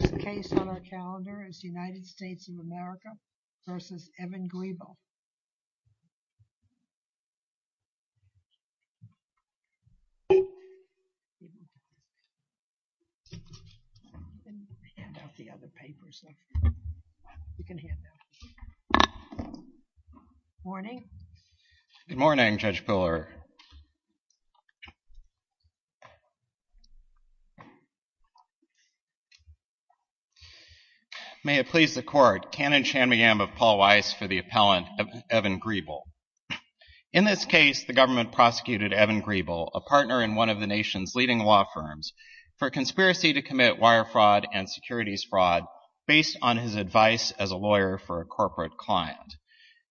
The next case on our calendar is United States of America v. Evan Griebel. Good morning. Good morning, Judge Buller. May it please the court, Canon Chan-Miyam of Paul Weiss for the appellant, Evan Griebel. In this case, the government prosecuted Evan Griebel, a partner in one of the nation's leading law firms, for conspiracy to commit wire fraud and securities fraud based on his advice as a lawyer for a corporate client.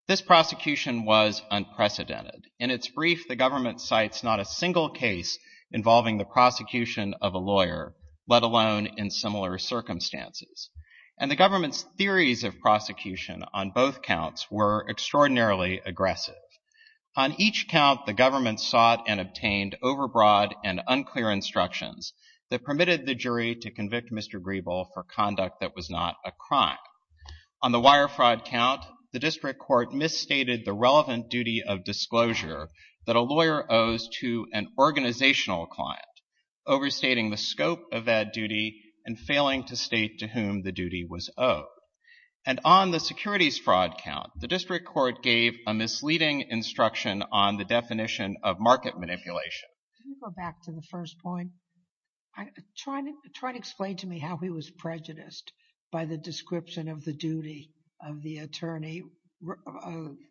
This prosecution was unprecedented. In its brief, the government cites not a single case involving the prosecution of a lawyer, let alone in similar circumstances. And the government's theories of prosecution on both counts were extraordinarily aggressive. On each count, the government sought and obtained overbroad and unclear instructions that permitted the jury to convict Mr. Griebel for conduct that was not a crime. On the wire fraud count, the district court misstated the relevant duty of disclosure that a lawyer owes to an organizational client, overstating the scope of that duty and failing to state to whom the duty was owed. And on the securities fraud count, the district court gave a misleading instruction on the definition of market manipulation. Can you go back to the first point? Try to explain to me how he was prejudiced by the description of the duty of the attorney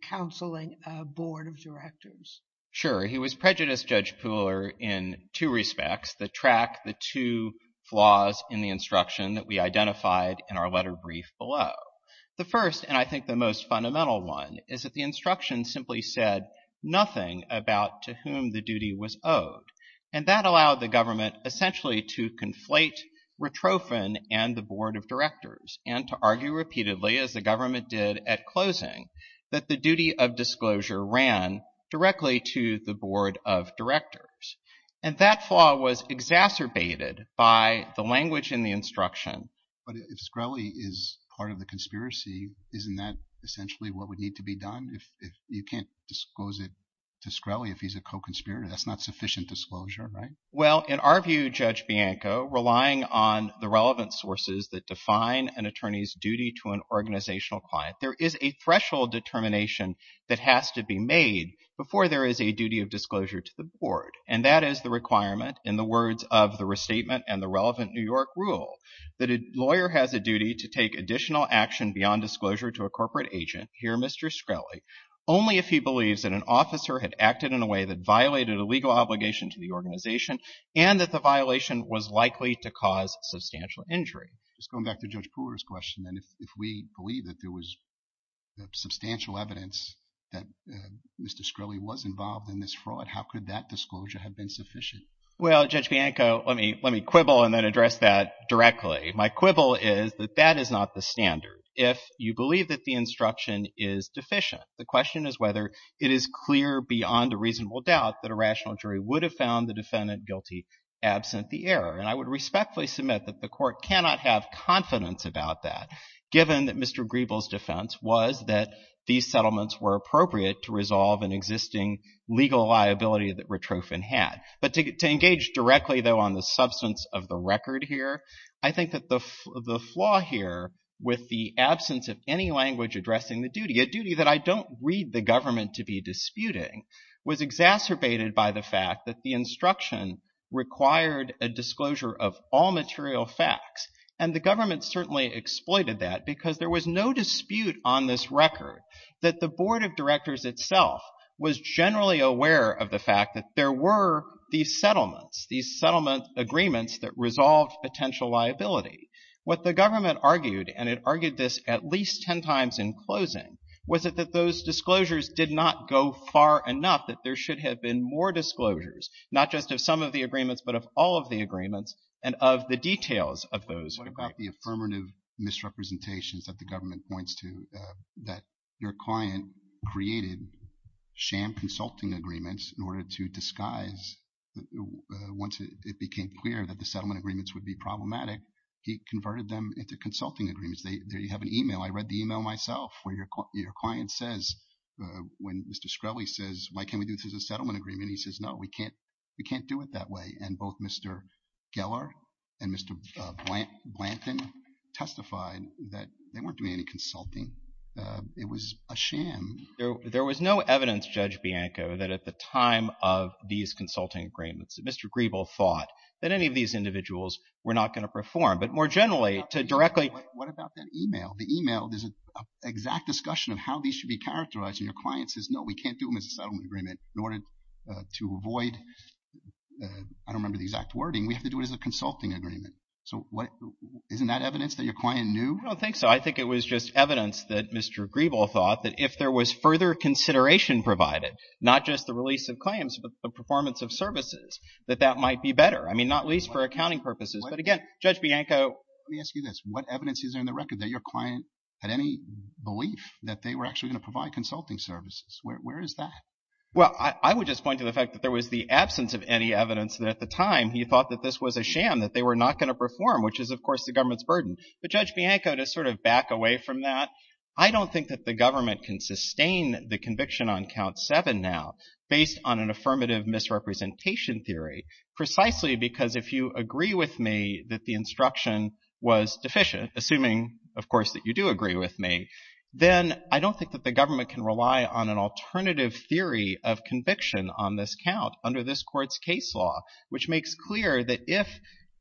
counseling a board of directors. Sure. He was prejudiced, Judge Pooler, in two respects. The track, the two flaws in the instruction that we identified in our letter brief below. The first, and I think the most fundamental one, is that the instruction simply said nothing about to whom the duty was owed. And that allowed the government essentially to conflate Retrophin and the board of directors and to argue repeatedly, as the government did at closing, that the duty of disclosure ran directly to the board of directors. And that flaw was exacerbated by the language in the instruction. But if Screlly is part of the conspiracy, isn't that essentially what would need to be done? You can't disclose it to Screlly if he's a co-conspirator. That's not sufficient disclosure, right? Well, in our view, Judge Bianco, relying on the relevant sources that define an attorney's duty to an organizational client, there is a threshold determination that has to be made before there is a duty of disclosure to the board. And that is the requirement, in the words of the restatement and the relevant New York rule, that a lawyer has a duty to beyond disclosure to a corporate agent, here Mr. Screlly, only if he believes that an officer had acted in a way that violated a legal obligation to the organization and that the violation was likely to cause substantial injury. Just going back to Judge Pooler's question, then, if we believe that there was substantial evidence that Mr. Screlly was involved in this fraud, how could that disclosure have been sufficient? Well, Judge Bianco, let me quibble and then address that directly. My quibble is that that is not the standard. If you believe that the instruction is deficient, the question is whether it is clear beyond a reasonable doubt that a rational jury would have found the defendant guilty absent the error. And I would respectfully submit that the Court cannot have confidence about that, given that Mr. Grebel's defense was that these settlements were appropriate to resolve an existing legal liability that Ratrophin had. But to engage directly, though, on the substance of the record here, I think that the flaw here with the absence of any language addressing the duty, a duty that I don't read the government to be disputing, was exacerbated by the fact that the instruction required a disclosure of all material facts. And the government certainly exploited that because there was no dispute on this record that the Board of Directors itself was generally aware of the fact that there were these settlements, these settlement agreements that resolved potential liability. What the government argued, and it argued this at least 10 times in closing, was that those disclosures did not go far enough that there should have been more disclosures, not just of some of the agreements, but of all of the agreements, and of the details of those agreements. What about the affirmative misrepresentations that the government points to, that your client created sham consulting agreements in order to disguise, once it became clear that the project, he converted them into consulting agreements. There you have an email. I read the email myself, where your client says, when Mr. Shkreli says, why can't we do this as a settlement agreement? He says, no, we can't do it that way. And both Mr. Gellar and Mr. Blanton testified that they weren't doing any consulting. It was a sham. There was no evidence, Judge Bianco, that at the time of these consulting agreements, Mr. Grebel thought that any of these individuals were not going to perform. But more generally, to directly- What about that email? The email, there's an exact discussion of how these should be characterized, and your client says, no, we can't do them as a settlement agreement. In order to avoid, I don't remember the exact wording, we have to do it as a consulting agreement. So isn't that evidence that your client knew? I don't think so. I think it was just evidence that Mr. Grebel thought that if there was further consideration provided, not just the release of claims, but the performance of services, that that might be better. I mean, not least for accounting purposes. But again, Judge Bianco- Let me ask you this. What evidence is there in the record that your client had any belief that they were actually going to provide consulting services? Where is that? Well, I would just point to the fact that there was the absence of any evidence that at the time, he thought that this was a sham, that they were not going to perform, which is, of course, the government's burden. But Judge Bianco, to sort of back away from that, I don't think that the government can sustain the conviction on count seven now based on an affirmative misrepresentation theory, precisely because if you agree with me that the instruction was deficient, assuming, of course, that you do agree with me, then I don't think that the government can rely on an alternative theory of conviction on this count under this court's case law, which makes clear that if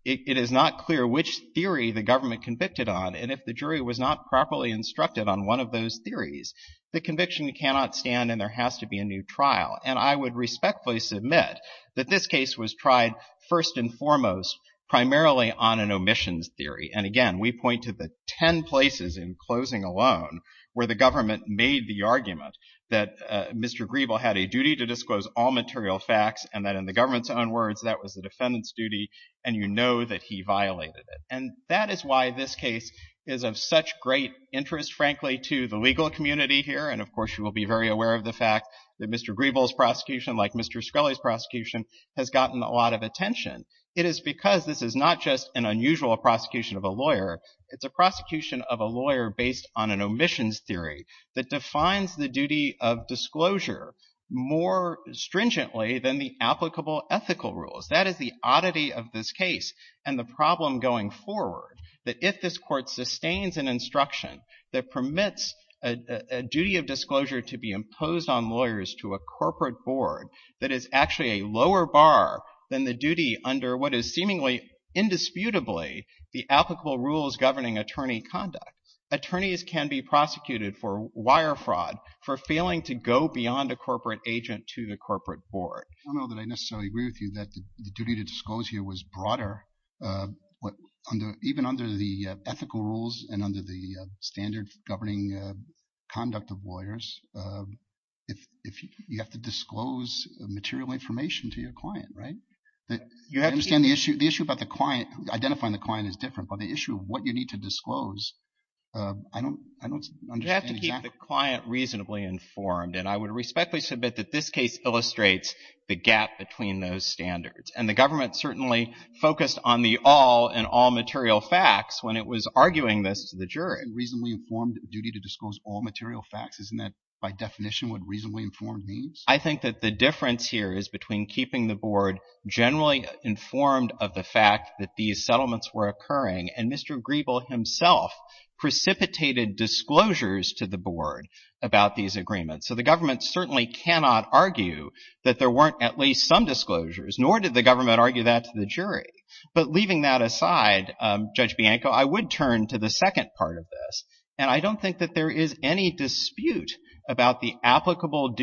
it is not clear which theory the government convicted on and if the jury was not properly instructed on one of those theories, the conviction cannot stand and there has to be a new trial. And I would respectfully submit that this case was tried first and foremost primarily on an omissions theory. And again, we point to the ten places in closing alone where the government made the argument that Mr. Grebel had a duty to disclose all material facts and that in the government's own words, that was the defendant's duty and you know that he violated it. And that is why this case is of such great interest, frankly, to the legal community here. And of course, you will be very aware of the fact that Mr. Grebel's prosecution, like Mr. Scully's prosecution, has gotten a lot of attention. It is because this is not just an unusual prosecution of a lawyer. It's a prosecution of a lawyer based on an omissions theory that defines the duty of disclosure more stringently than the applicable ethical rules. That is the oddity of this case and the problem going forward, that if this court sustains an instruction that permits a duty of disclosure to be imposed on lawyers to a corporate board that is actually a lower bar than the duty under what is seemingly indisputably the applicable rules governing attorney conduct. Attorneys can be prosecuted for wire fraud for failing to go beyond a corporate agent to the corporate board. I don't know that I necessarily agree with you that the duty to disclose here was broader even under the ethical rules and under the standard governing conduct of lawyers. If you have to disclose material information to your client, right? I understand the issue about the client. Identifying the client is different, but the issue of what you need to disclose, I don't understand exactly. You have to keep the client reasonably informed. I would respectfully submit that this case illustrates the gap between those standards. The government certainly focused on the all and all material facts when it was arguing this to the jury. Reasonably informed duty to disclose all material facts, isn't that by definition what reasonably informed means? I think that the difference here is between keeping the board generally informed of the fact that these settlements were occurring and Mr. Grebel himself precipitated disclosures to the board about these agreements. So the government certainly cannot argue that there weren't at least some disclosures, nor did the government argue that to the jury. But leaving that aside, Judge Bianco, I would turn to the second part of this, and I don't think that there is any dispute about the role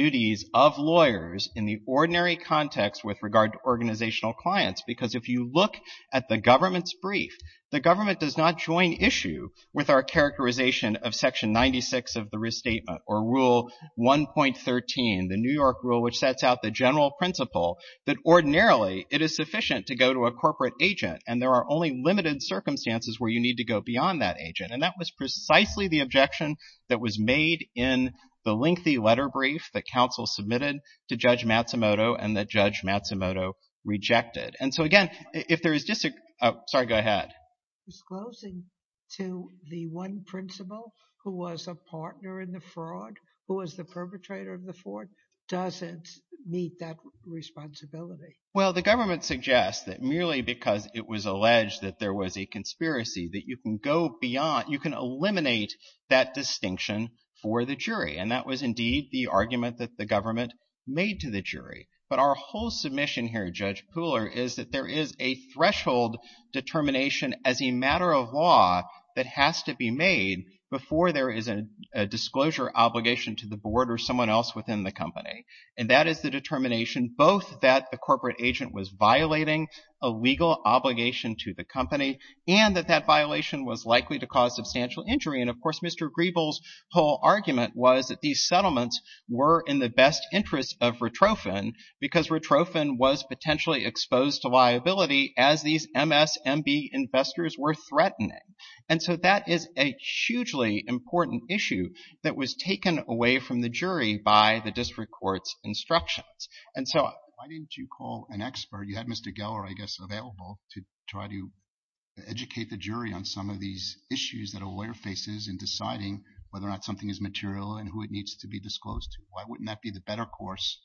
of lawyers in the ordinary context with regard to organizational clients. Because if you look at the government's brief, the government does not join issue with our characterization of Section 96 of the Restatement or Rule 1.13, the New York rule which sets out the general principle that ordinarily it is sufficient to go to a corporate agent and there are only limited circumstances where you need to go beyond that agent, and that was precisely the objection that was made in the lengthy letter brief that counsel submitted to Judge Matsumoto and that Judge Matsumoto rejected. And so again, if there is just a—oh, sorry, go ahead. Disclosing to the one principal who was a partner in the fraud, who was the perpetrator of the fraud, doesn't meet that responsibility. Well, the government suggests that merely because it was alleged that there was a conspiracy that you can go beyond—you can eliminate that distinction for the jury, and that was indeed the argument that the government made to the jury. But our whole submission here, Judge Pooler, is that there is a threshold determination as a matter of law that has to be made before there is a disclosure obligation to the board or someone else within the company, and that is the determination both that the corporate violation was likely to cause substantial injury, and of course, Mr. Griebel's whole argument was that these settlements were in the best interest of Rotrofen because Rotrofen was potentially exposed to liability as these MSMB investors were threatening. And so that is a hugely important issue that was taken away from the jury by the district court's instructions. And so— Why didn't you call an expert—you had Mr. Geller, I guess, available to try to educate the jury on some of these issues that a lawyer faces in deciding whether or not something is material and who it needs to be disclosed to? Why wouldn't that be the better course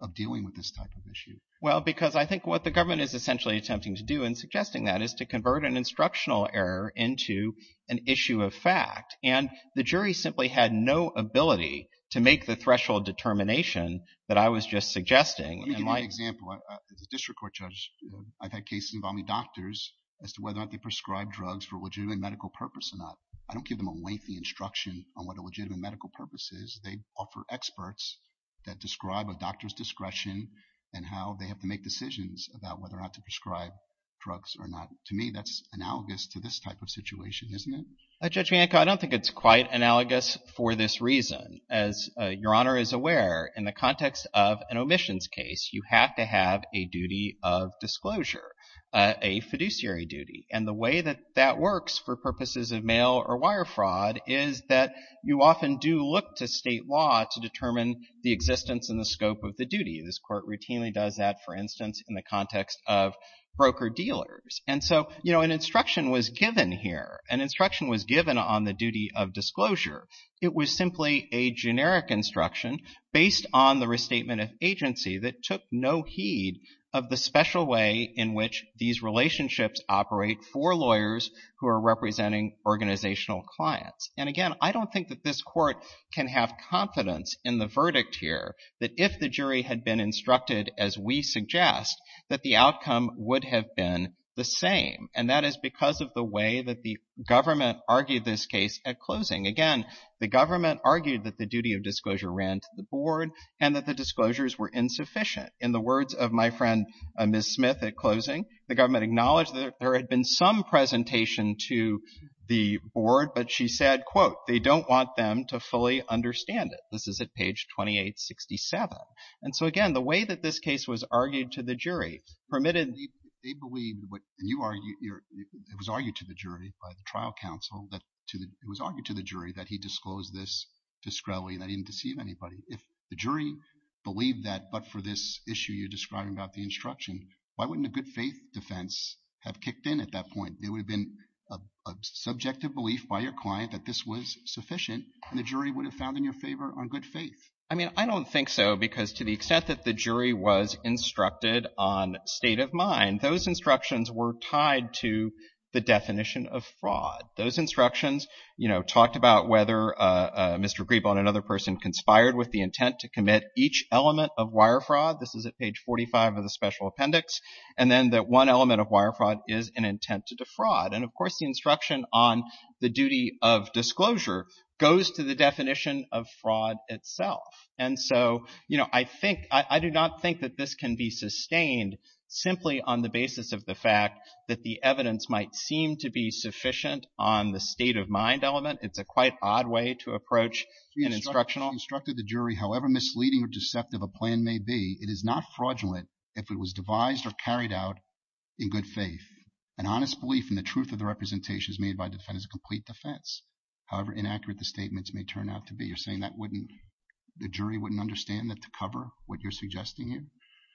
of dealing with this type of issue? Well, because I think what the government is essentially attempting to do in suggesting that is to convert an instructional error into an issue of fact, and the jury simply had no ability to make the threshold determination that I was just suggesting. Let me give you an example. As a district court judge, I've had cases involving doctors as to whether or not they prescribe drugs for a legitimate medical purpose or not. I don't give them a lengthy instruction on what a legitimate medical purpose is. They offer experts that describe a doctor's discretion and how they have to make decisions about whether or not to prescribe drugs or not. To me, that's analogous to this type of situation, isn't it? Judge Bianco, I don't think it's quite analogous for this reason. As Your Honor is aware, in the context of an omissions case, you have to have a duty of disclosure, a fiduciary duty. And the way that that works for purposes of mail or wire fraud is that you often do look to state law to determine the existence and the scope of the duty. This court routinely does that, for instance, in the context of broker-dealers. And so, you know, an instruction was given here. An instruction was given on the duty of disclosure. It was simply a generic instruction based on the restatement of agency that took no heed of the special way in which these relationships operate for lawyers who are representing organizational clients. And again, I don't think that this court can have confidence in the verdict here that if the jury had been instructed, as we suggest, that the outcome would have been the same. And that is because of the way that the government argued this case at closing. Again, the government argued that the duty of disclosure ran to the board and that the disclosures were insufficient. In the words of my friend, Ms. Smith, at closing, the government acknowledged that there had been some presentation to the board, but she said, quote, they don't want them to fully understand it. This is at page 2867. And so, again, the way that this case was argued to the jury permitted — it was argued to the jury by the trial counsel that — it was argued to the jury that he disclosed this discreetly and that he didn't deceive anybody. If the jury believed that, but for this issue you're describing about the instruction, why wouldn't a good faith defense have kicked in at that point? It would have been a subjective belief by your client that this was sufficient, and the jury would have found in your favor on good faith. I mean, I don't think so, because to the extent that the jury was instructed on state of mind, those instructions were tied to the definition of fraud. Those instructions, you know, talked about whether Mr. Griebel and another person conspired with the intent to commit each element of wire fraud. This is at page 45 of the special appendix. And then that one element of wire fraud is an intent to defraud. And, of course, the instruction on the duty of disclosure goes to the definition of fraud itself. And so, you know, I think — I do not think that this can be sustained simply on the basis of the fact that the evidence might seem to be sufficient on the state of mind element. It's a quite odd way to approach an instructional — You instructed the jury, however misleading or deceptive a plan may be, it is not fraudulent if it was devised or carried out in good faith. An honest belief in the truth of the representations made by the defendant is a complete defense, however inaccurate the statements may turn out to be. You're saying that wouldn't — the jury wouldn't understand that to cover what you're suggesting here?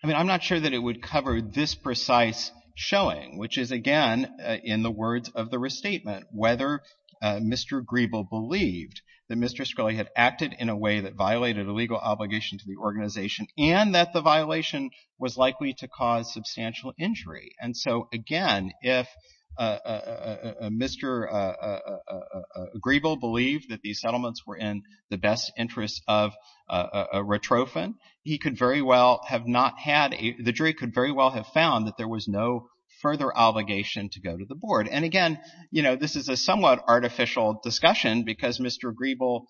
I mean, I'm not sure that it would cover this precise showing, which is, again, in the words of the restatement, whether Mr. Griebel believed that Mr. Scully had acted in a way that violated a legal obligation to the organization and that the violation was likely to cause substantial injury. And so, again, if Mr. Griebel believed that these settlements were in the best interest of a retrophin, he could very well have not had a — the jury could very well have found that there was no further obligation to go to the board. And again, you know, this is a somewhat artificial discussion because Mr. Griebel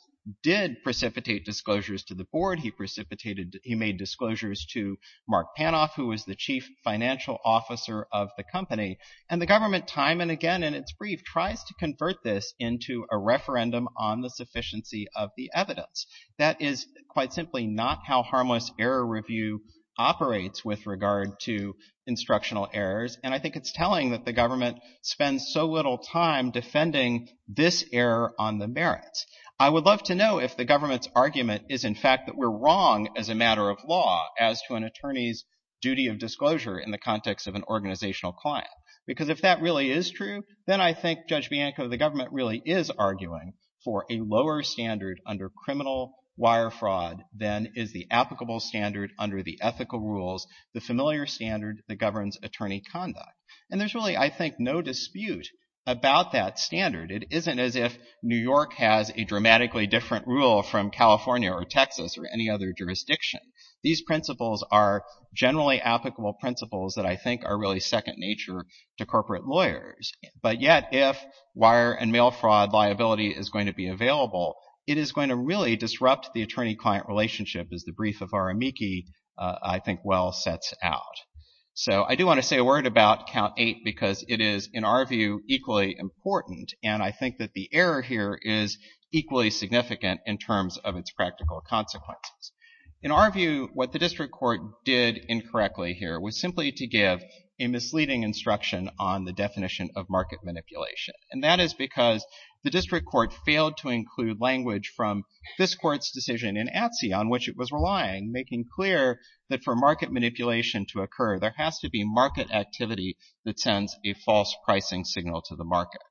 did precipitate disclosures to the board. He precipitated — he made disclosures to Mark Panoff, who was the chief financial officer of the company. And the government, time and again in its brief, tries to convert this into a referendum on the sufficiency of the evidence. That is quite simply not how harmless error review operates with regard to instructional errors. And I think it's telling that the government spends so little time defending this error on the merits. I would love to know if the government's argument is, in fact, that we're wrong as a matter of law as to an attorney's duty of disclosure in the context of an organizational client. Because if that really is true, then I think, Judge Bianco, the government really is arguing for a lower standard under criminal wire fraud than is the applicable standard under the ethical rules, the familiar standard that governs attorney conduct. And there's really, I think, no dispute about that standard. It isn't as if New York has a dramatically different rule from California or Texas or any other jurisdiction. These principles are generally applicable principles that I think are really second nature to corporate lawyers. But yet, if wire and mail fraud liability is going to be available, it is going to really disrupt the attorney-client relationship, as the brief of Aramiki, I think, well sets out. So I do want to say a word about Count 8 because it is, in our view, equally important. And I think that the error here is equally significant in terms of its practical consequences. In our view, what the district court did incorrectly here was simply to give a misleading instruction on the definition of market manipulation. And that is because the district court failed to include language from this court's decision in ATSI on which it was relying, making clear that for market manipulation to occur, there has to be market activity that sends a false pricing signal to the market.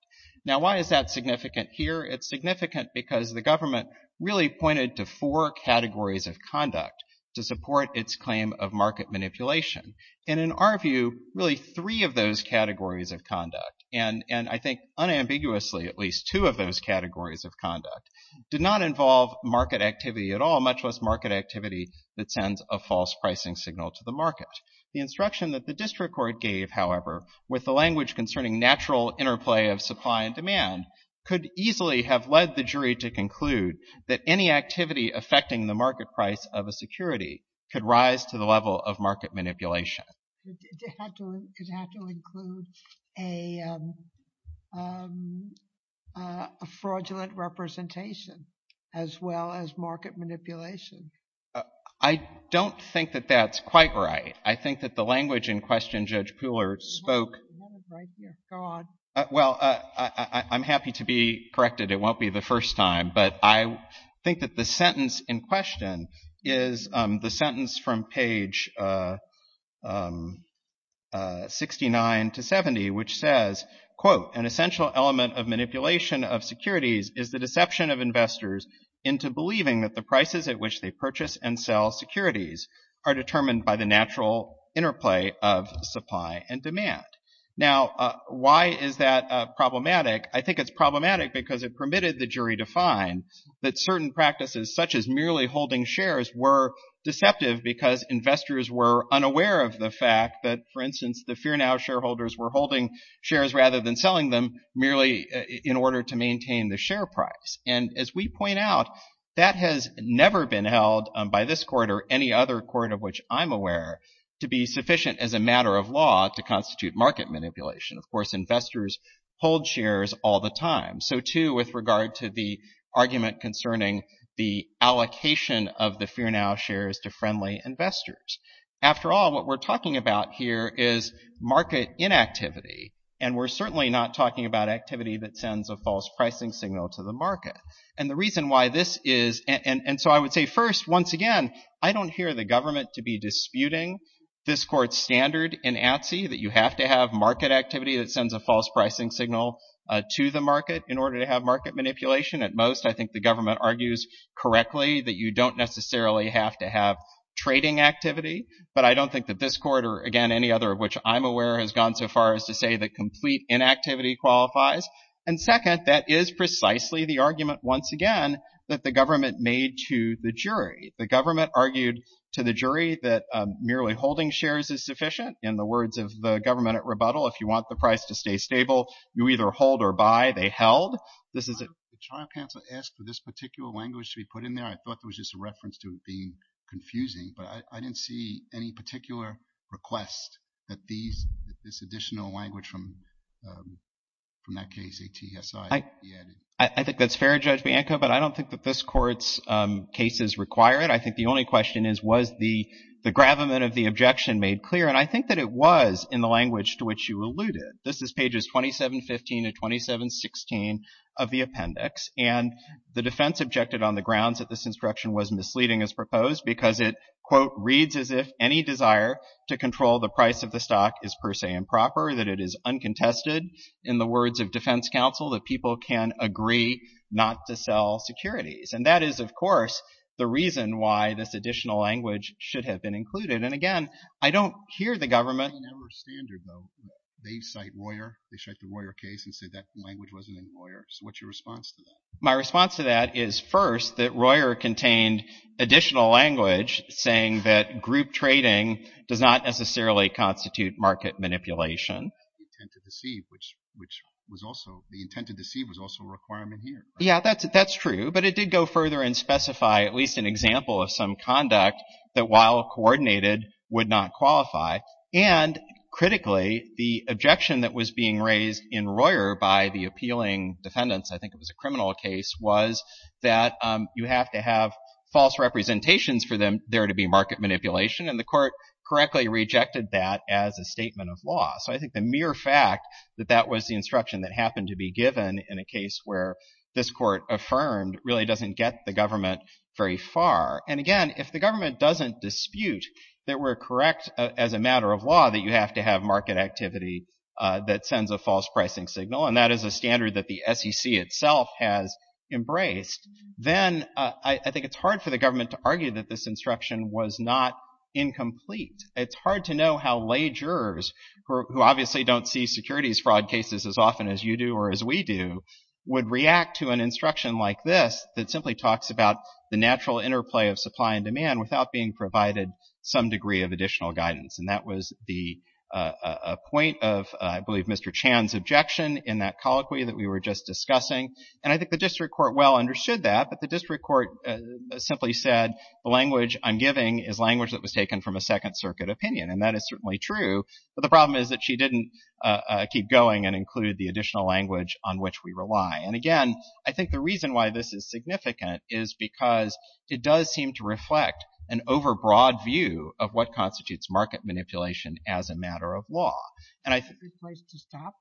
Now why is that significant here? It's significant because the government really pointed to four categories of conduct to support its claim of market manipulation. And in our view, really three of those categories of conduct, and I think unambiguously at least two of those categories of conduct, did not involve market activity at all, much less market activity that sends a false pricing signal to the market. The instruction that the district court gave, however, with the language concerning natural interplay of supply and demand, could easily have led the jury to conclude that any activity affecting the market price of a security could rise to the level of market manipulation. It had to include a fraudulent representation as well as market manipulation. I don't think that that's quite right. I think that the language in question Judge Puhler spoke... You have it right here. Go on. Well, I'm happy to be corrected. It won't be the first time. But I think that the sentence in question is the sentence from page 69 to 70, which says, quote, an essential element of manipulation of securities is the deception of investors into believing that the prices at which they purchase and sell securities are determined by the natural interplay of supply and demand. Now why is that problematic? I think it's problematic because it permitted the jury to find that certain practices such as merely holding shares were deceptive because investors were unaware of the fact that, for instance, the Fear Now shareholders were holding shares rather than selling them merely in order to maintain the share price. And as we point out, that has never been held by this court or any other court of which I'm aware to be sufficient as a matter of law to constitute market manipulation. Of course, investors hold shares all the time. So too with regard to the argument concerning the allocation of the Fear Now shares to friendly investors. After all, what we're talking about here is market inactivity. And we're certainly not talking about activity that sends a false pricing signal to the market. And the reason why this is... And so I would say first, once again, I don't hear the government to be disputing this court's standard in ATSI that you have to have market activity that sends a false pricing signal to the market in order to have market manipulation. At most, I think the government argues correctly that you don't necessarily have to have trading activity. But I don't think that this court or, again, any other of which I'm aware has gone so far as to say that complete inactivity qualifies. And second, that is precisely the argument, once again, that the government made to the jury. The government argued to the jury that merely holding shares is sufficient. In the words of the government at rebuttal, if you want the price to stay stable, you either hold or buy. They held. This is a... The trial counsel asked for this particular language to be put in there. I thought there was just a reference to it being confusing, but I didn't see any particular I think that's fair, Judge Bianco, but I don't think that this court's cases require it. I think the only question is, was the gravamen of the objection made clear? And I think that it was in the language to which you alluded. This is pages 2715 and 2716 of the appendix. And the defense objected on the grounds that this instruction was misleading as proposed because it, quote, reads as if any desire to control the price of the stock is per se improper. That it is uncontested in the words of defense counsel that people can agree not to sell securities. And that is, of course, the reason why this additional language should have been included. And again, I don't hear the government... They cite Royer. They cite the Royer case and say that language wasn't in Royer. What's your response to that? My response to that is first that Royer contained additional language saying that group trading does not necessarily constitute market manipulation. The intent to deceive was also a requirement here. Yeah, that's true. But it did go further and specify at least an example of some conduct that while coordinated would not qualify. And critically, the objection that was being raised in Royer by the appealing defendants, I think it was a criminal case, was that you have to have false representations for there to be market manipulation. And the court correctly rejected that as a statement of law. So I think the mere fact that that was the instruction that happened to be given in a case where this court affirmed really doesn't get the government very far. And again, if the government doesn't dispute that we're correct as a matter of law that you have to have market activity that sends a false pricing signal, and that is a standard that the SEC itself has embraced, then I think it's hard for the government to argue that this instruction was not incomplete. It's hard to know how lay jurors, who obviously don't see securities fraud cases as often as you do or as we do, would react to an instruction like this that simply talks about the natural interplay of supply and demand without being provided some degree of additional guidance. And that was the point of, I believe, Mr. Chan's objection in that colloquy that we were just discussing. And I think the district court well understood that. But the district court simply said, the language I'm giving is language that was taken from a Second Circuit opinion. And that is certainly true. But the problem is that she didn't keep going and include the additional language on which we rely. And again, I think the reason why this is significant is because it does seem to reflect an overbroad view of what constitutes market manipulation as a matter of law. And I think— —to stop?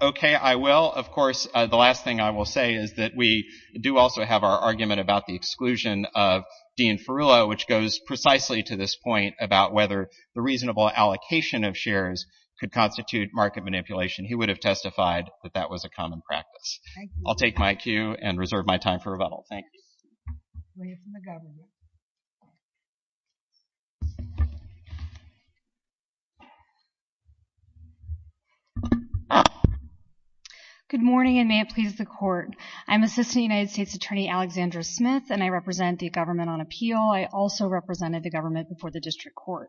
—OK, I will. Of course, the last thing I will say is that we do also have our argument about the exclusion of Dean Ferullo, which goes precisely to this point about whether the reasonable allocation of shares could constitute market manipulation. He would have testified that that was a common practice. I'll take my cue and reserve my time for rebuttal. Thank you. We have from the government. Good morning, and may it please the Court. I'm Assistant United States Attorney Alexandra Smith, and I represent the government on appeal. I also represented the government before the district court.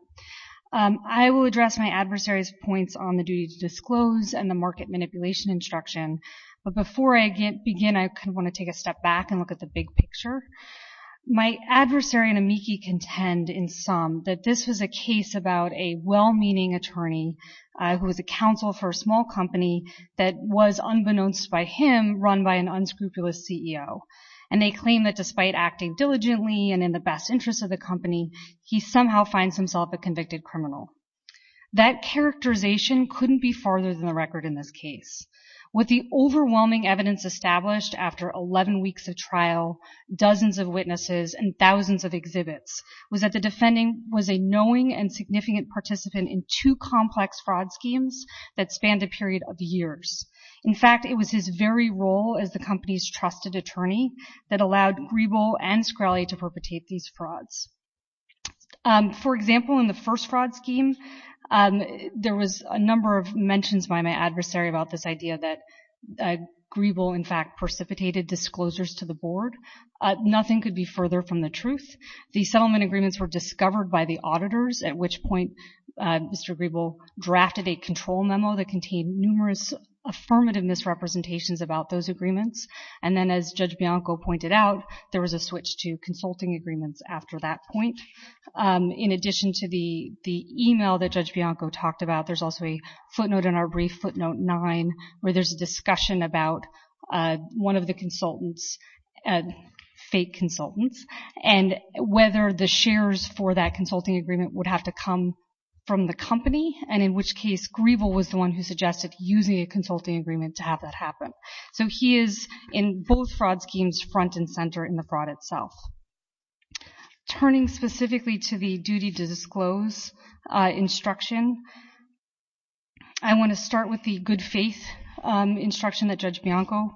I will address my adversary's points on the duty to disclose and the market manipulation instruction. But before I begin, I kind of want to take a step back and look at the big picture. My adversary and amici contend in sum that this was a case about a well-meaning attorney who was a counsel for a small company that was, unbeknownst by him, run by an unscrupulous CEO. And they claim that despite acting diligently and in the best interests of the company, he somehow finds himself a convicted criminal. That characterization couldn't be farther than the record in this case. What the overwhelming evidence established after 11 weeks of trial, dozens of witnesses, and thousands of exhibits was that the defendant was a knowing and significant participant in two complex fraud schemes that spanned a period of years. In fact, it was his very role as the company's trusted attorney that allowed Grebel and Screlly to perpetrate these frauds. For example, in the first fraud scheme, there was a number of mentions by my adversary about this idea that Grebel, in fact, precipitated disclosures to the board. Nothing could be further from the truth. The settlement agreements were discovered by the auditors, at which point Mr. Grebel drafted a control memo that contained numerous affirmative misrepresentations about those agreements. And then, as Judge Bianco pointed out, there was a switch to consulting agreements after that point. In addition to the email that Judge Bianco talked about, there's also a footnote in our where there's a discussion about one of the consultants, fake consultants, and whether the shares for that consulting agreement would have to come from the company, and in which case Grebel was the one who suggested using a consulting agreement to have that happen. So he is, in both fraud schemes, front and center in the fraud itself. Turning specifically to the duty to disclose instruction, I want to start with the good faith instruction that Judge Bianco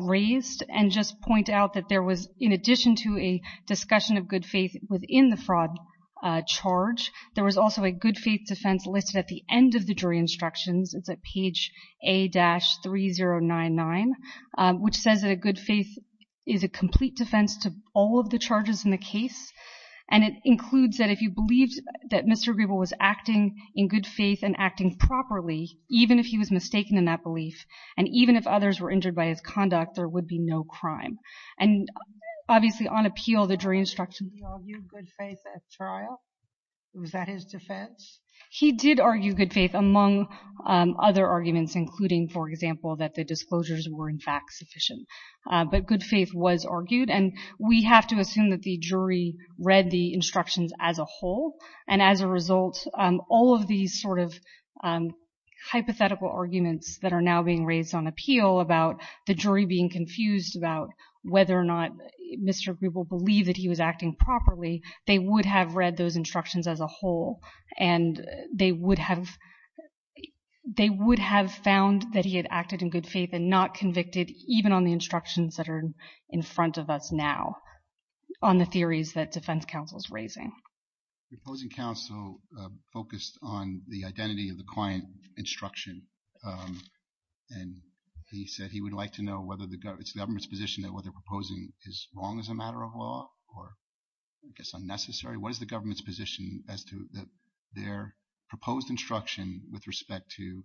raised, and just point out that there was, in addition to a discussion of good faith within the fraud charge, there was also a good faith defense listed at the end of the jury instructions, it's at page A-3099, which says that a good faith is a complete defense to all of the charges in the case, and it includes that if you believed that Mr. Grebel was acting in good faith and acting properly, even if he was mistaken in that belief, and even if others were injured by his conduct, there would be no crime. And obviously on appeal, the jury instructions... He argued good faith at trial? Was that his defense? He did argue good faith among other arguments, including, for example, that the disclosures were in fact sufficient. But good faith was argued, and we have to assume that the jury read the instructions as a whole, and as a result, all of these sort of hypothetical arguments that are now being raised on appeal about the jury being confused about whether or not Mr. Grebel believed that he was acting properly, they would have read those instructions as a whole, and they would have found that he had acted in good faith and not convicted, even on the instructions that are in front of us now, on the theories that defense counsel's raising. Proposing counsel focused on the identity of the client instruction, and he said he would like to know whether the government's position that what they're proposing is wrong as a matter of law, or I guess unnecessary, what is the government's position as to their proposed instruction with respect to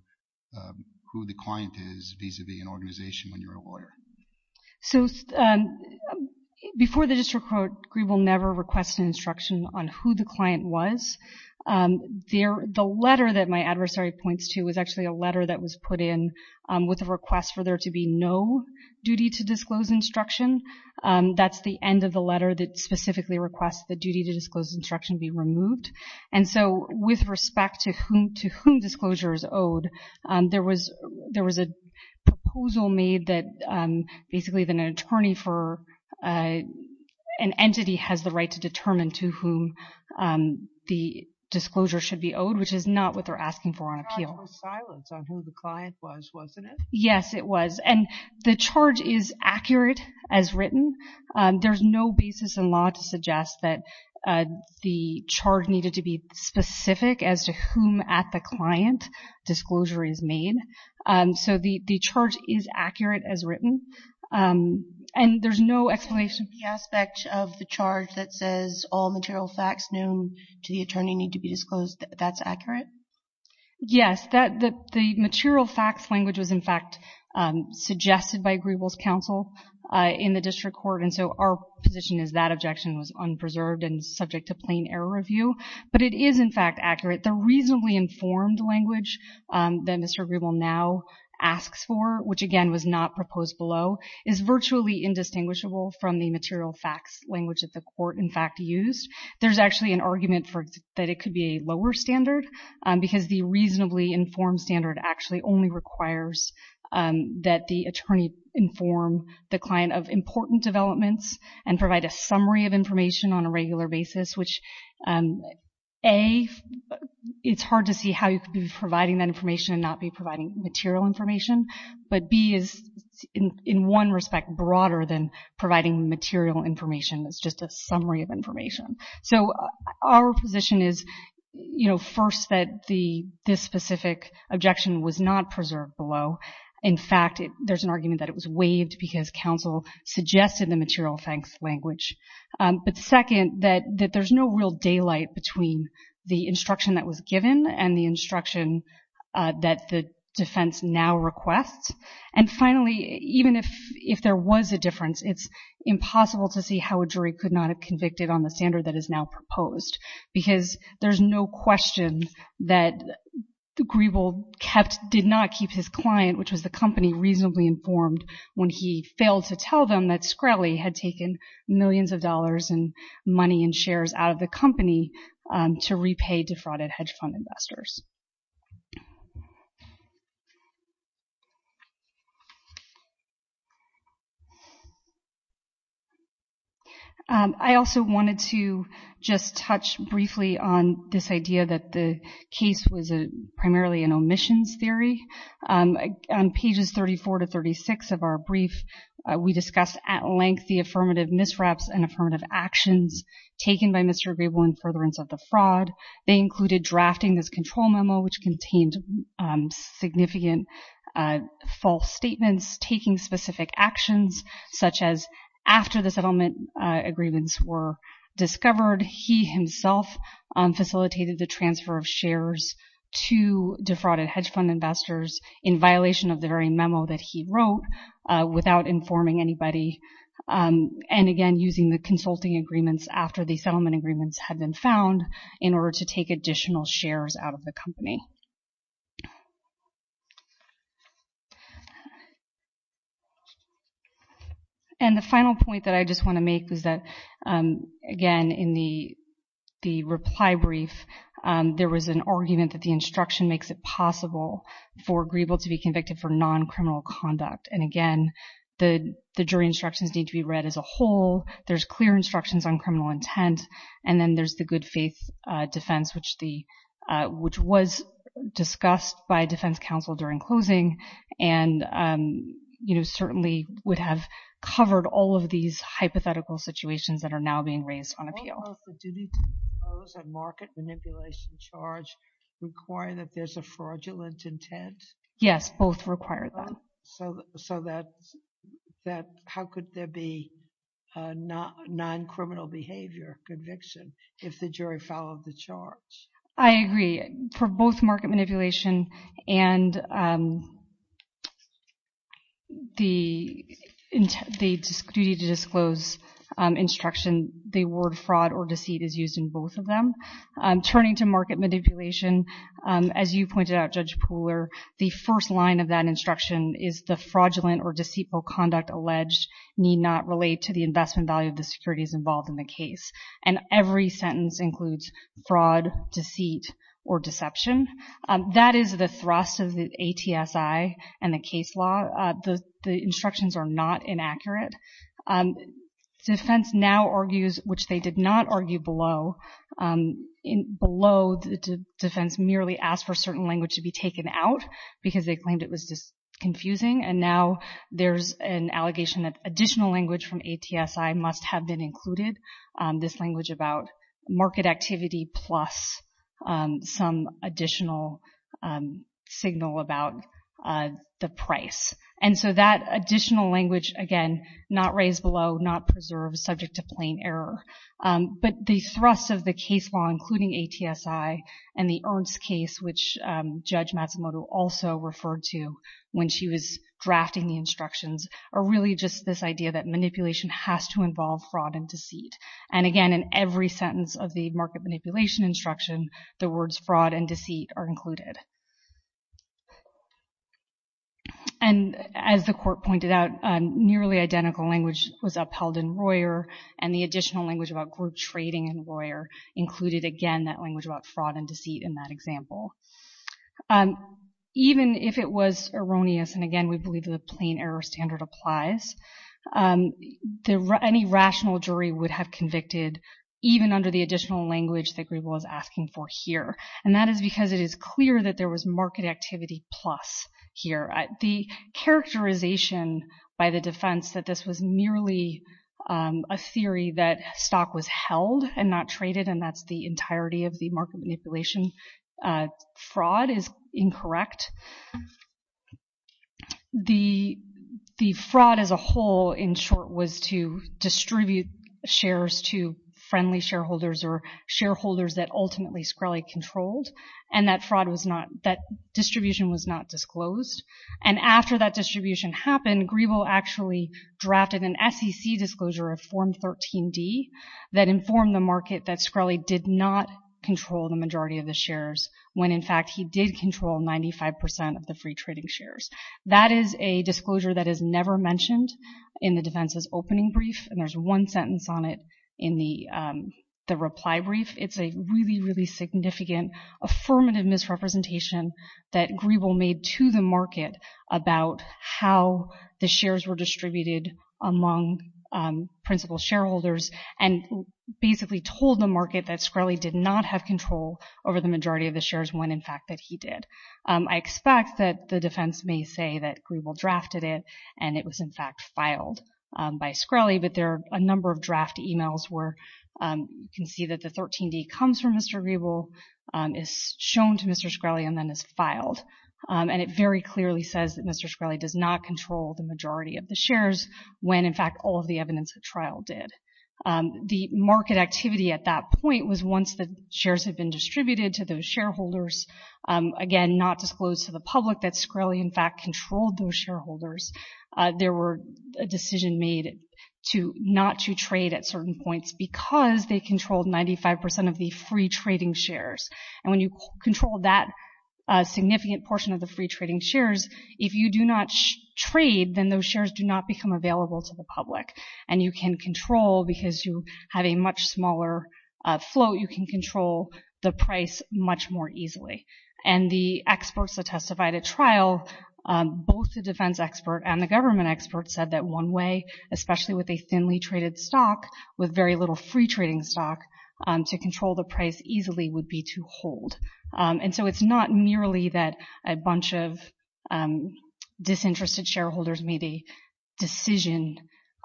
who the client is vis-a-vis an organization when you're a lawyer? So before the district court, Grebel never requested instruction on who the client was. The letter that my adversary points to was actually a letter that was put in with a request for there to be no duty to disclose instruction. That's the end of the letter that specifically requests the duty to disclose instruction be removed. And so, with respect to whom disclosure is owed, there was a proposal made that basically that an attorney for an entity has the right to determine to whom the disclosure should be owed, which is not what they're asking for on appeal. It was silence on who the client was, wasn't it? Yes, it was. And the charge is accurate as written. There's no basis in law to suggest that the charge needed to be specific as to whom at the client disclosure is made. So the charge is accurate as written. And there's no explanation. The aspect of the charge that says all material facts known to the attorney need to be disclosed, that's accurate? Yes. The material facts language was in fact suggested by Griebel's counsel in the district court, and so our position is that objection was unpreserved and subject to plain error review. But it is in fact accurate. The reasonably informed language that Mr. Griebel now asks for, which again was not proposed below, is virtually indistinguishable from the material facts language that the court in fact used. There's actually an argument that it could be a lower standard because the reasonably informed standard actually only requires that the attorney inform the client of important developments and provide a summary of information on a regular basis, which A, it's hard to see how you could be providing that information and not be providing material information. But B is in one respect broader than providing material information. It's just a summary of information. So our position is, you know, first that this specific objection was not preserved below. In fact, there's an argument that it was waived because counsel suggested the material facts language. But second, that there's no real daylight between the instruction that was given and the instruction that the defense now requests. And finally, even if there was a difference, it's impossible to see how a jury could not have convicted on the standard that is now proposed. Because there's no question that the grieval did not keep his client, which was the company reasonably informed, when he failed to tell them that Screlly had taken millions of dollars and money and shares out of the company to repay defrauded hedge fund investors. I also wanted to just touch briefly on this idea that the case was primarily an omissions theory. On pages 34 to 36 of our brief, we discussed at length the affirmative misreps and affirmative actions taken by Mr. Griebel in furtherance of the fraud. They included drafting this control memo, which contained significant false statements, taking specific actions, such as after the settlement agreements were discovered, he himself facilitated the transfer of shares to defrauded hedge fund investors in violation of the very memo that he wrote without informing anybody. And again, using the consulting agreements after the settlement agreements had been found in order to take additional shares out of the company. And the final point that I just want to make is that, again, in the reply brief there was an argument that the instruction makes it possible for Griebel to be convicted for non-criminal conduct. And again, the jury instructions need to be read as a whole, there's clear instructions on criminal intent, and then there's the good faith defense, which was discussed by defense counsel during closing, and certainly would have covered all of these hypothetical situations that are now being raised on appeal. Do you need to impose a market manipulation charge requiring that there's a fraudulent intent? Yes, both require that. So that, how could there be non-criminal behavior conviction if the jury followed the charge? I agree. For both market manipulation and the duty to disclose instruction, the word fraud or deceit is used in both of them. Turning to market manipulation, as you pointed out, Judge Pooler, the first line of that is, the fraudulent or deceitful conduct alleged need not relate to the investment value of the securities involved in the case. And every sentence includes fraud, deceit, or deception. That is the thrust of the ATSI and the case law. The instructions are not inaccurate. Defense now argues, which they did not argue below, below defense merely asked for certain language to be taken out because they claimed it was just confusing. And now there's an allegation that additional language from ATSI must have been included. This language about market activity plus some additional signal about the price. And so that additional language, again, not raised below, not preserved, subject to plain error. But the thrust of the case law, including ATSI and the Ernst case, which Judge Matsumoto also referred to when she was drafting the instructions, are really just this idea that manipulation has to involve fraud and deceit. And again, in every sentence of the market manipulation instruction, the words fraud and deceit are included. And as the court pointed out, nearly identical language was upheld in Royer and the additional language about group trading in Royer included, again, that language about fraud and deceit in that example. Even if it was erroneous, and again, we believe the plain error standard applies, any rational jury would have convicted even under the additional language that Griebel was asking for here. And that is because it is clear that there was market activity plus here. The characterization by the defense that this was merely a theory that stock was held and not traded, and that's the entirety of the market manipulation fraud is incorrect. The fraud as a whole, in short, was to distribute shares to friendly shareholders or shareholders that ultimately Screlley controlled, and that distribution was not disclosed. And after that distribution happened, Griebel actually drafted an SEC disclosure of Form 13D that informed the market that Screlley did not control the majority of the shares, when in fact he did control 95% of the free trading shares. That is a disclosure that is never mentioned in the defense's opening brief, and there's one sentence on it in the reply brief. It's a really, really significant affirmative misrepresentation that Griebel made to the market about how the shares were distributed among principal shareholders, and basically told the market that Screlley did not have control over the majority of the shares, when in fact that he did. I expect that the defense may say that Griebel drafted it, and it was in fact filed by Screlley, but there are a number of draft emails where you can see that the 13D comes from Mr. Griebel, is shown to Mr. Screlley, and then is filed. And it very clearly says that Mr. Screlley does not control the majority of the shares, when in fact all of the evidence at trial did. The market activity at that point was once the shares had been distributed to those shareholders, again, not disclosed to the public that Screlley in fact controlled those shareholders, there were a decision made not to trade at certain points, because they controlled 95% of the free trading shares, and when you control that significant portion of the free trading shares, if you do not trade, then those shares do not become available to the public. And you can control, because you have a much smaller float, you can control the price much more easily. And the experts that testified at trial, both the defense expert and the government expert said that one way, especially with a thinly traded stock, with very little free trading stock, to control the price easily would be to hold. And so it's not merely that a bunch of disinterested shareholders made a decision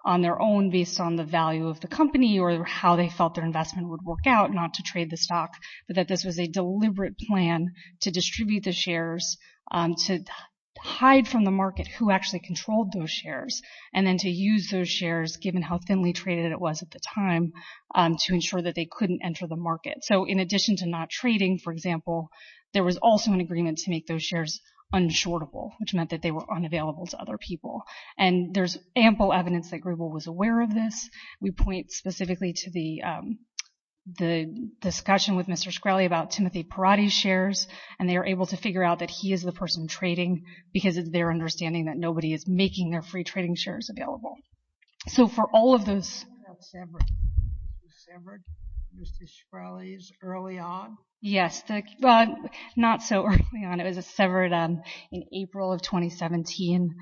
on their own based on the value of the company or how they felt their investment would work out not to deliberate plan to distribute the shares, to hide from the market who actually controlled those shares, and then to use those shares, given how thinly traded it was at the time, to ensure that they couldn't enter the market. So in addition to not trading, for example, there was also an agreement to make those shares unshortable, which meant that they were unavailable to other people. And there's ample evidence that Grebel was aware of this. We point specifically to the discussion with Mr. Shkreli about Timothy Perotti's shares, and they were able to figure out that he is the person trading because of their understanding that nobody is making their free trading shares available. So for all of those... Was that severed, Mr. Shkreli's, early on? Yes, not so early on, it was severed in April of 2017,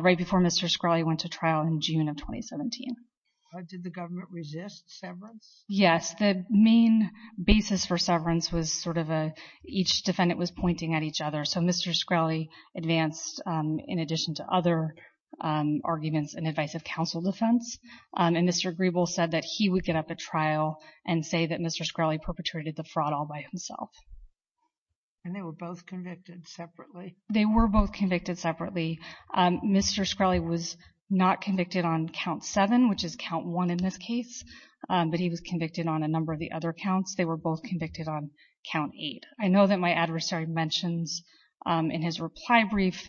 right before Mr. Shkreli went to the court. Did the government resist severance? Yes. The main basis for severance was sort of each defendant was pointing at each other. So Mr. Shkreli advanced, in addition to other arguments and advice of counsel defense, and Mr. Grebel said that he would get up at trial and say that Mr. Shkreli perpetrated the fraud all by himself. And they were both convicted separately? They were both convicted separately. Mr. Shkreli was not convicted on count seven, which is count one in this case, but he was convicted on a number of the other counts. They were both convicted on count eight. I know that my adversary mentions in his reply brief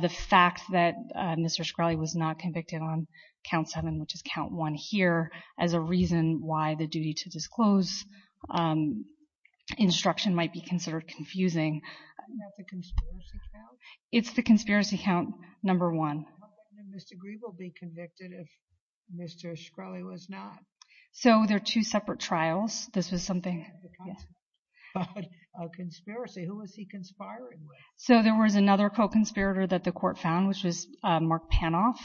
the fact that Mr. Shkreli was not convicted on count seven, which is count one here, as a reason why the duty to disclose instruction might be considered confusing. Isn't that the conspiracy count? It's the conspiracy count number one. How can Mr. Grebel be convicted if Mr. Shkreli was not? So they're two separate trials. This was something... He had the conspiracy. A conspiracy. Who was he conspiring with? So there was another co-conspirator that the court found, which was Mark Panoff.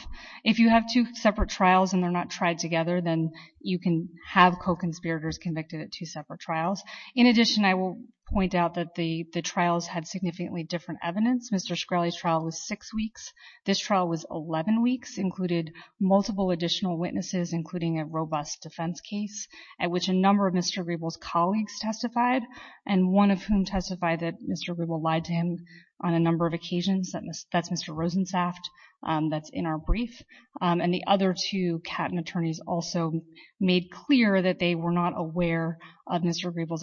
If you have two separate trials and they're not tried together, then you can have co-conspirators convicted at two separate trials. In addition, I will point out that the trials had significantly different evidence. Mr. Shkreli's trial was six weeks. This trial was 11 weeks, included multiple additional witnesses, including a robust defense case at which a number of Mr. Grebel's colleagues testified, and one of whom testified that Mr. Grebel lied to him on a number of occasions. That's Mr. Rosensaft. That's in our brief. And the other two captain attorneys also made clear that they were not aware of Mr. Grebel's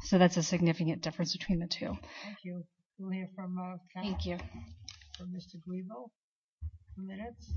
So that's a significant difference between the two. Thank you. We'll hear from Mr. Grebel in a few minutes.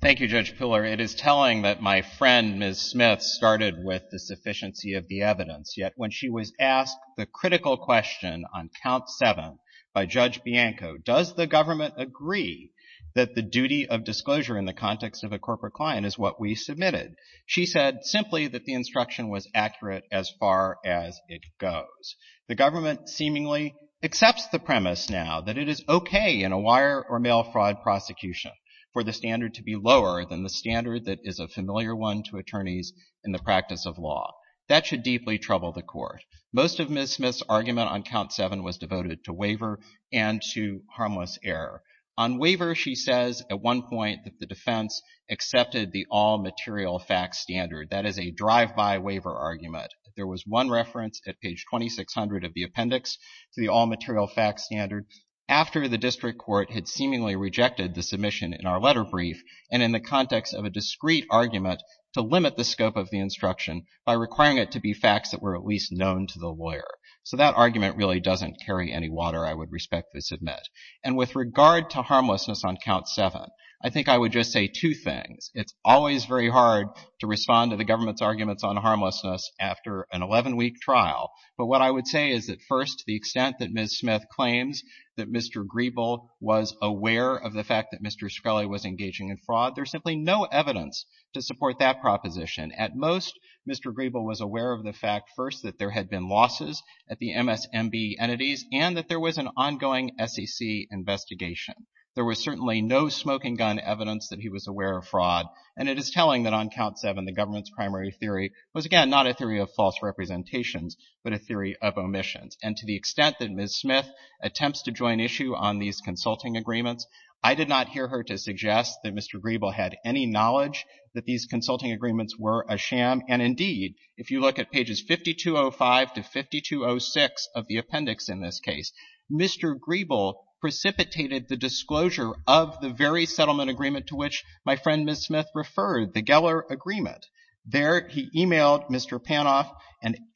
Thank you, Judge Piller. It is telling that my friend, Ms. Smith, started with the sufficiency of the evidence, yet when she was asked the critical question on count seven by Judge Bianco, does the government agree that the duty of disclosure in the context of a corporate client is what we submitted? She said simply that the instruction was accurate as far as it goes. The government seemingly accepts the premise now that it is okay in a wire or mail fraud prosecution for the standard to be lower than the standard that is a familiar one to attorneys in the practice of law. That should deeply trouble the court. Most of Ms. Smith's argument on count seven was devoted to waiver and to harmless error. On waiver, she says at one point that the defense accepted the all-material fact standard. That is a drive-by waiver argument. There was one reference at page 2600 of the appendix to the all-material fact standard after the district court had seemingly rejected the submission in our letter brief and in the context of a discreet argument to limit the scope of the instruction by requiring it to be facts that were at least known to the lawyer. So that argument really doesn't carry any water, I would respectfully submit. And with regard to harmlessness on count seven, I think I would just say two things. It's always very hard to respond to the government's arguments on harmlessness after an 11-week trial. But what I would say is that first, the extent that Ms. Smith claims that Mr. Griebel was aware of the fact that Mr. Scully was engaging in fraud, there's simply no evidence to support that proposition. At most, Mr. Griebel was aware of the fact first that there had been losses at the MSMB entities and that there was an ongoing SEC investigation. There was certainly no smoking gun evidence that he was aware of fraud. And it is telling that on count seven, the government's primary theory was, again, not a theory of false representations, but a theory of omissions. And to the extent that Ms. Smith attempts to join issue on these consulting agreements, I did not hear her to suggest that Mr. Griebel had any knowledge that these consulting agreements were a sham. And indeed, if you look at pages 5205 to 5206 of the appendix in this case, Mr. Griebel precipitated the disclosure of the very settlement agreement to which my friend Ms. Smith referred, the Geller Agreement. There, he emailed Mr. Panoff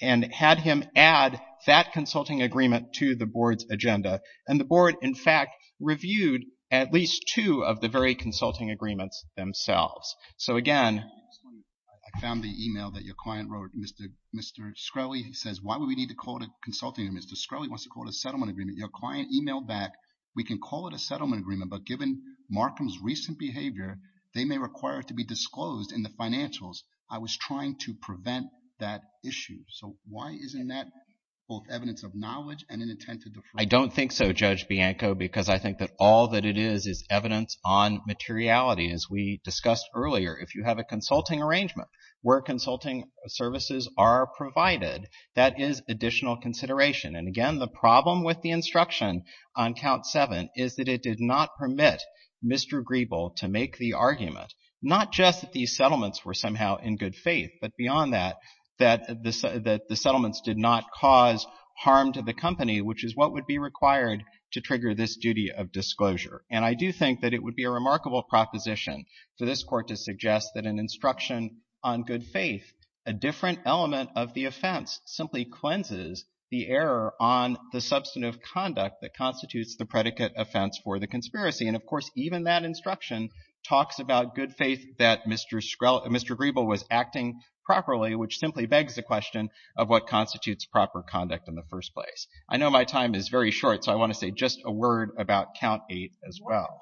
and had him add that consulting agreement to the board's agenda. And the board, in fact, reviewed at least two of the very consulting agreements themselves. So again... I found the email that your client wrote. Mr. Scully says, why would we need to call it a consulting agreement? Mr. Scully wants to call it a settlement agreement. Your client emailed back, we can call it a settlement agreement, but given Markham's recent behavior, they may require it to be disclosed in the financials. I was trying to prevent that issue. So why isn't that both evidence of knowledge and an intent to defraud? I don't think so, Judge Bianco, because I think that all that it is is evidence on materiality. And as we discussed earlier, if you have a consulting arrangement where consulting services are provided, that is additional consideration. And again, the problem with the instruction on Count 7 is that it did not permit Mr. Griebel to make the argument, not just that these settlements were somehow in good faith, but beyond that, that the settlements did not cause harm to the company, which is what would be required to trigger this duty of disclosure. And I do think that it would be a remarkable proposition for this Court to suggest that an instruction on good faith, a different element of the offense, simply cleanses the error on the substantive conduct that constitutes the predicate offense for the conspiracy. And of course, even that instruction talks about good faith that Mr. Griebel was acting properly, which simply begs the question of what constitutes proper conduct in the first place. I know my time is very short, so I want to say just a word about Count 8 as well.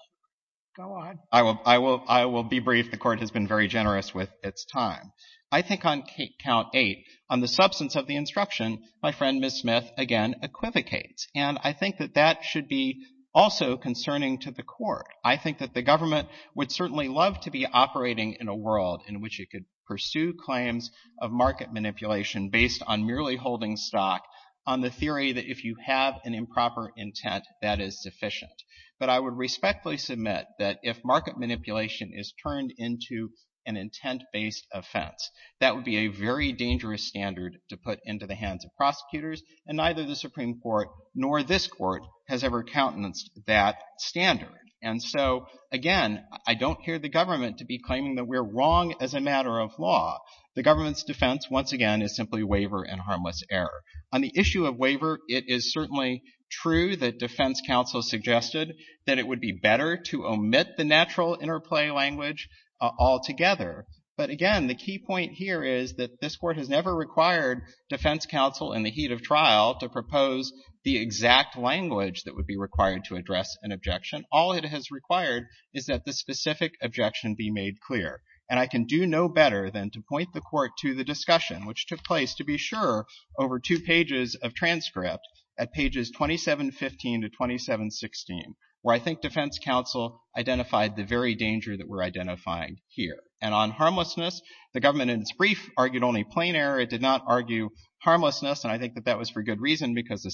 Go on. I will be brief. The Court has been very generous with its time. I think on Count 8, on the substance of the instruction, my friend Ms. Smith, again, equivocates. And I think that that should be also concerning to the Court. I think that the government would certainly love to be operating in a world in which it could pursue claims of market manipulation based on merely holding stock on the theory that if you have an improper intent, that is sufficient. But I would respectfully submit that if market manipulation is turned into an intent-based offense, that would be a very dangerous standard to put into the hands of prosecutors, and neither the Supreme Court nor this Court has ever countenanced that standard. And so, again, I don't hear the government to be claiming that we're wrong as a matter of law. The government's defense, once again, is simply waiver and harmless error. On the issue of waiver, it is certainly true that defense counsel suggested that it would be better to omit the natural interplay language altogether. But again, the key point here is that this Court has never required defense counsel in the heat of trial to propose the exact language that would be required to address an objection. All it has required is that the specific objection be made clear. And I can do no better than to point the Court to the discussion, which took place, to be sure, over two pages of transcript at pages 2715 to 2716, where I think defense counsel identified the very danger that we're identifying here. And on harmlessness, the government, in its brief, argued only plain error. It did not argue harmlessness, and I think that that was for good reason, because the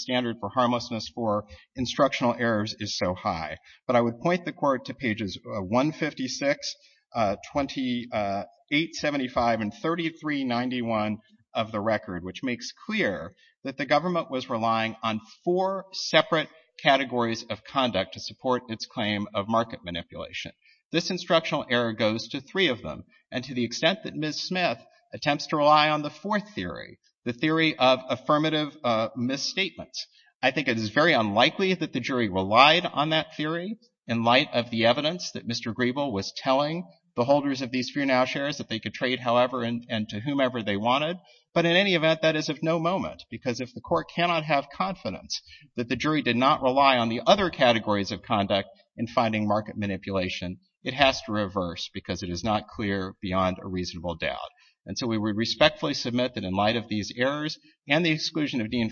But I would point the Court to pages 156, 2875, and 3391 of the record, which makes clear that the government was relying on four separate categories of conduct to support its claim of market manipulation. This instructional error goes to three of them, and to the extent that Ms. Smith attempts to rely on the fourth theory, the theory of affirmative misstatements, I think it is very likely that the jury relied on that theory in light of the evidence that Mr. Griebel was telling the holders of these Frenel shares that they could trade, however, and to whomever they wanted. But in any event, that is of no moment, because if the Court cannot have confidence that the jury did not rely on the other categories of conduct in finding market manipulation, it has to reverse, because it is not clear beyond a reasonable doubt. And so we respectfully submit that in light of these errors and the exclusion of Dean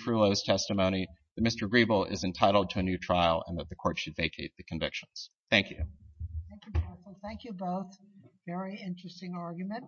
title to a new trial, and that the Court should vacate the convictions. Thank you. Thank you, both. Very interesting argument.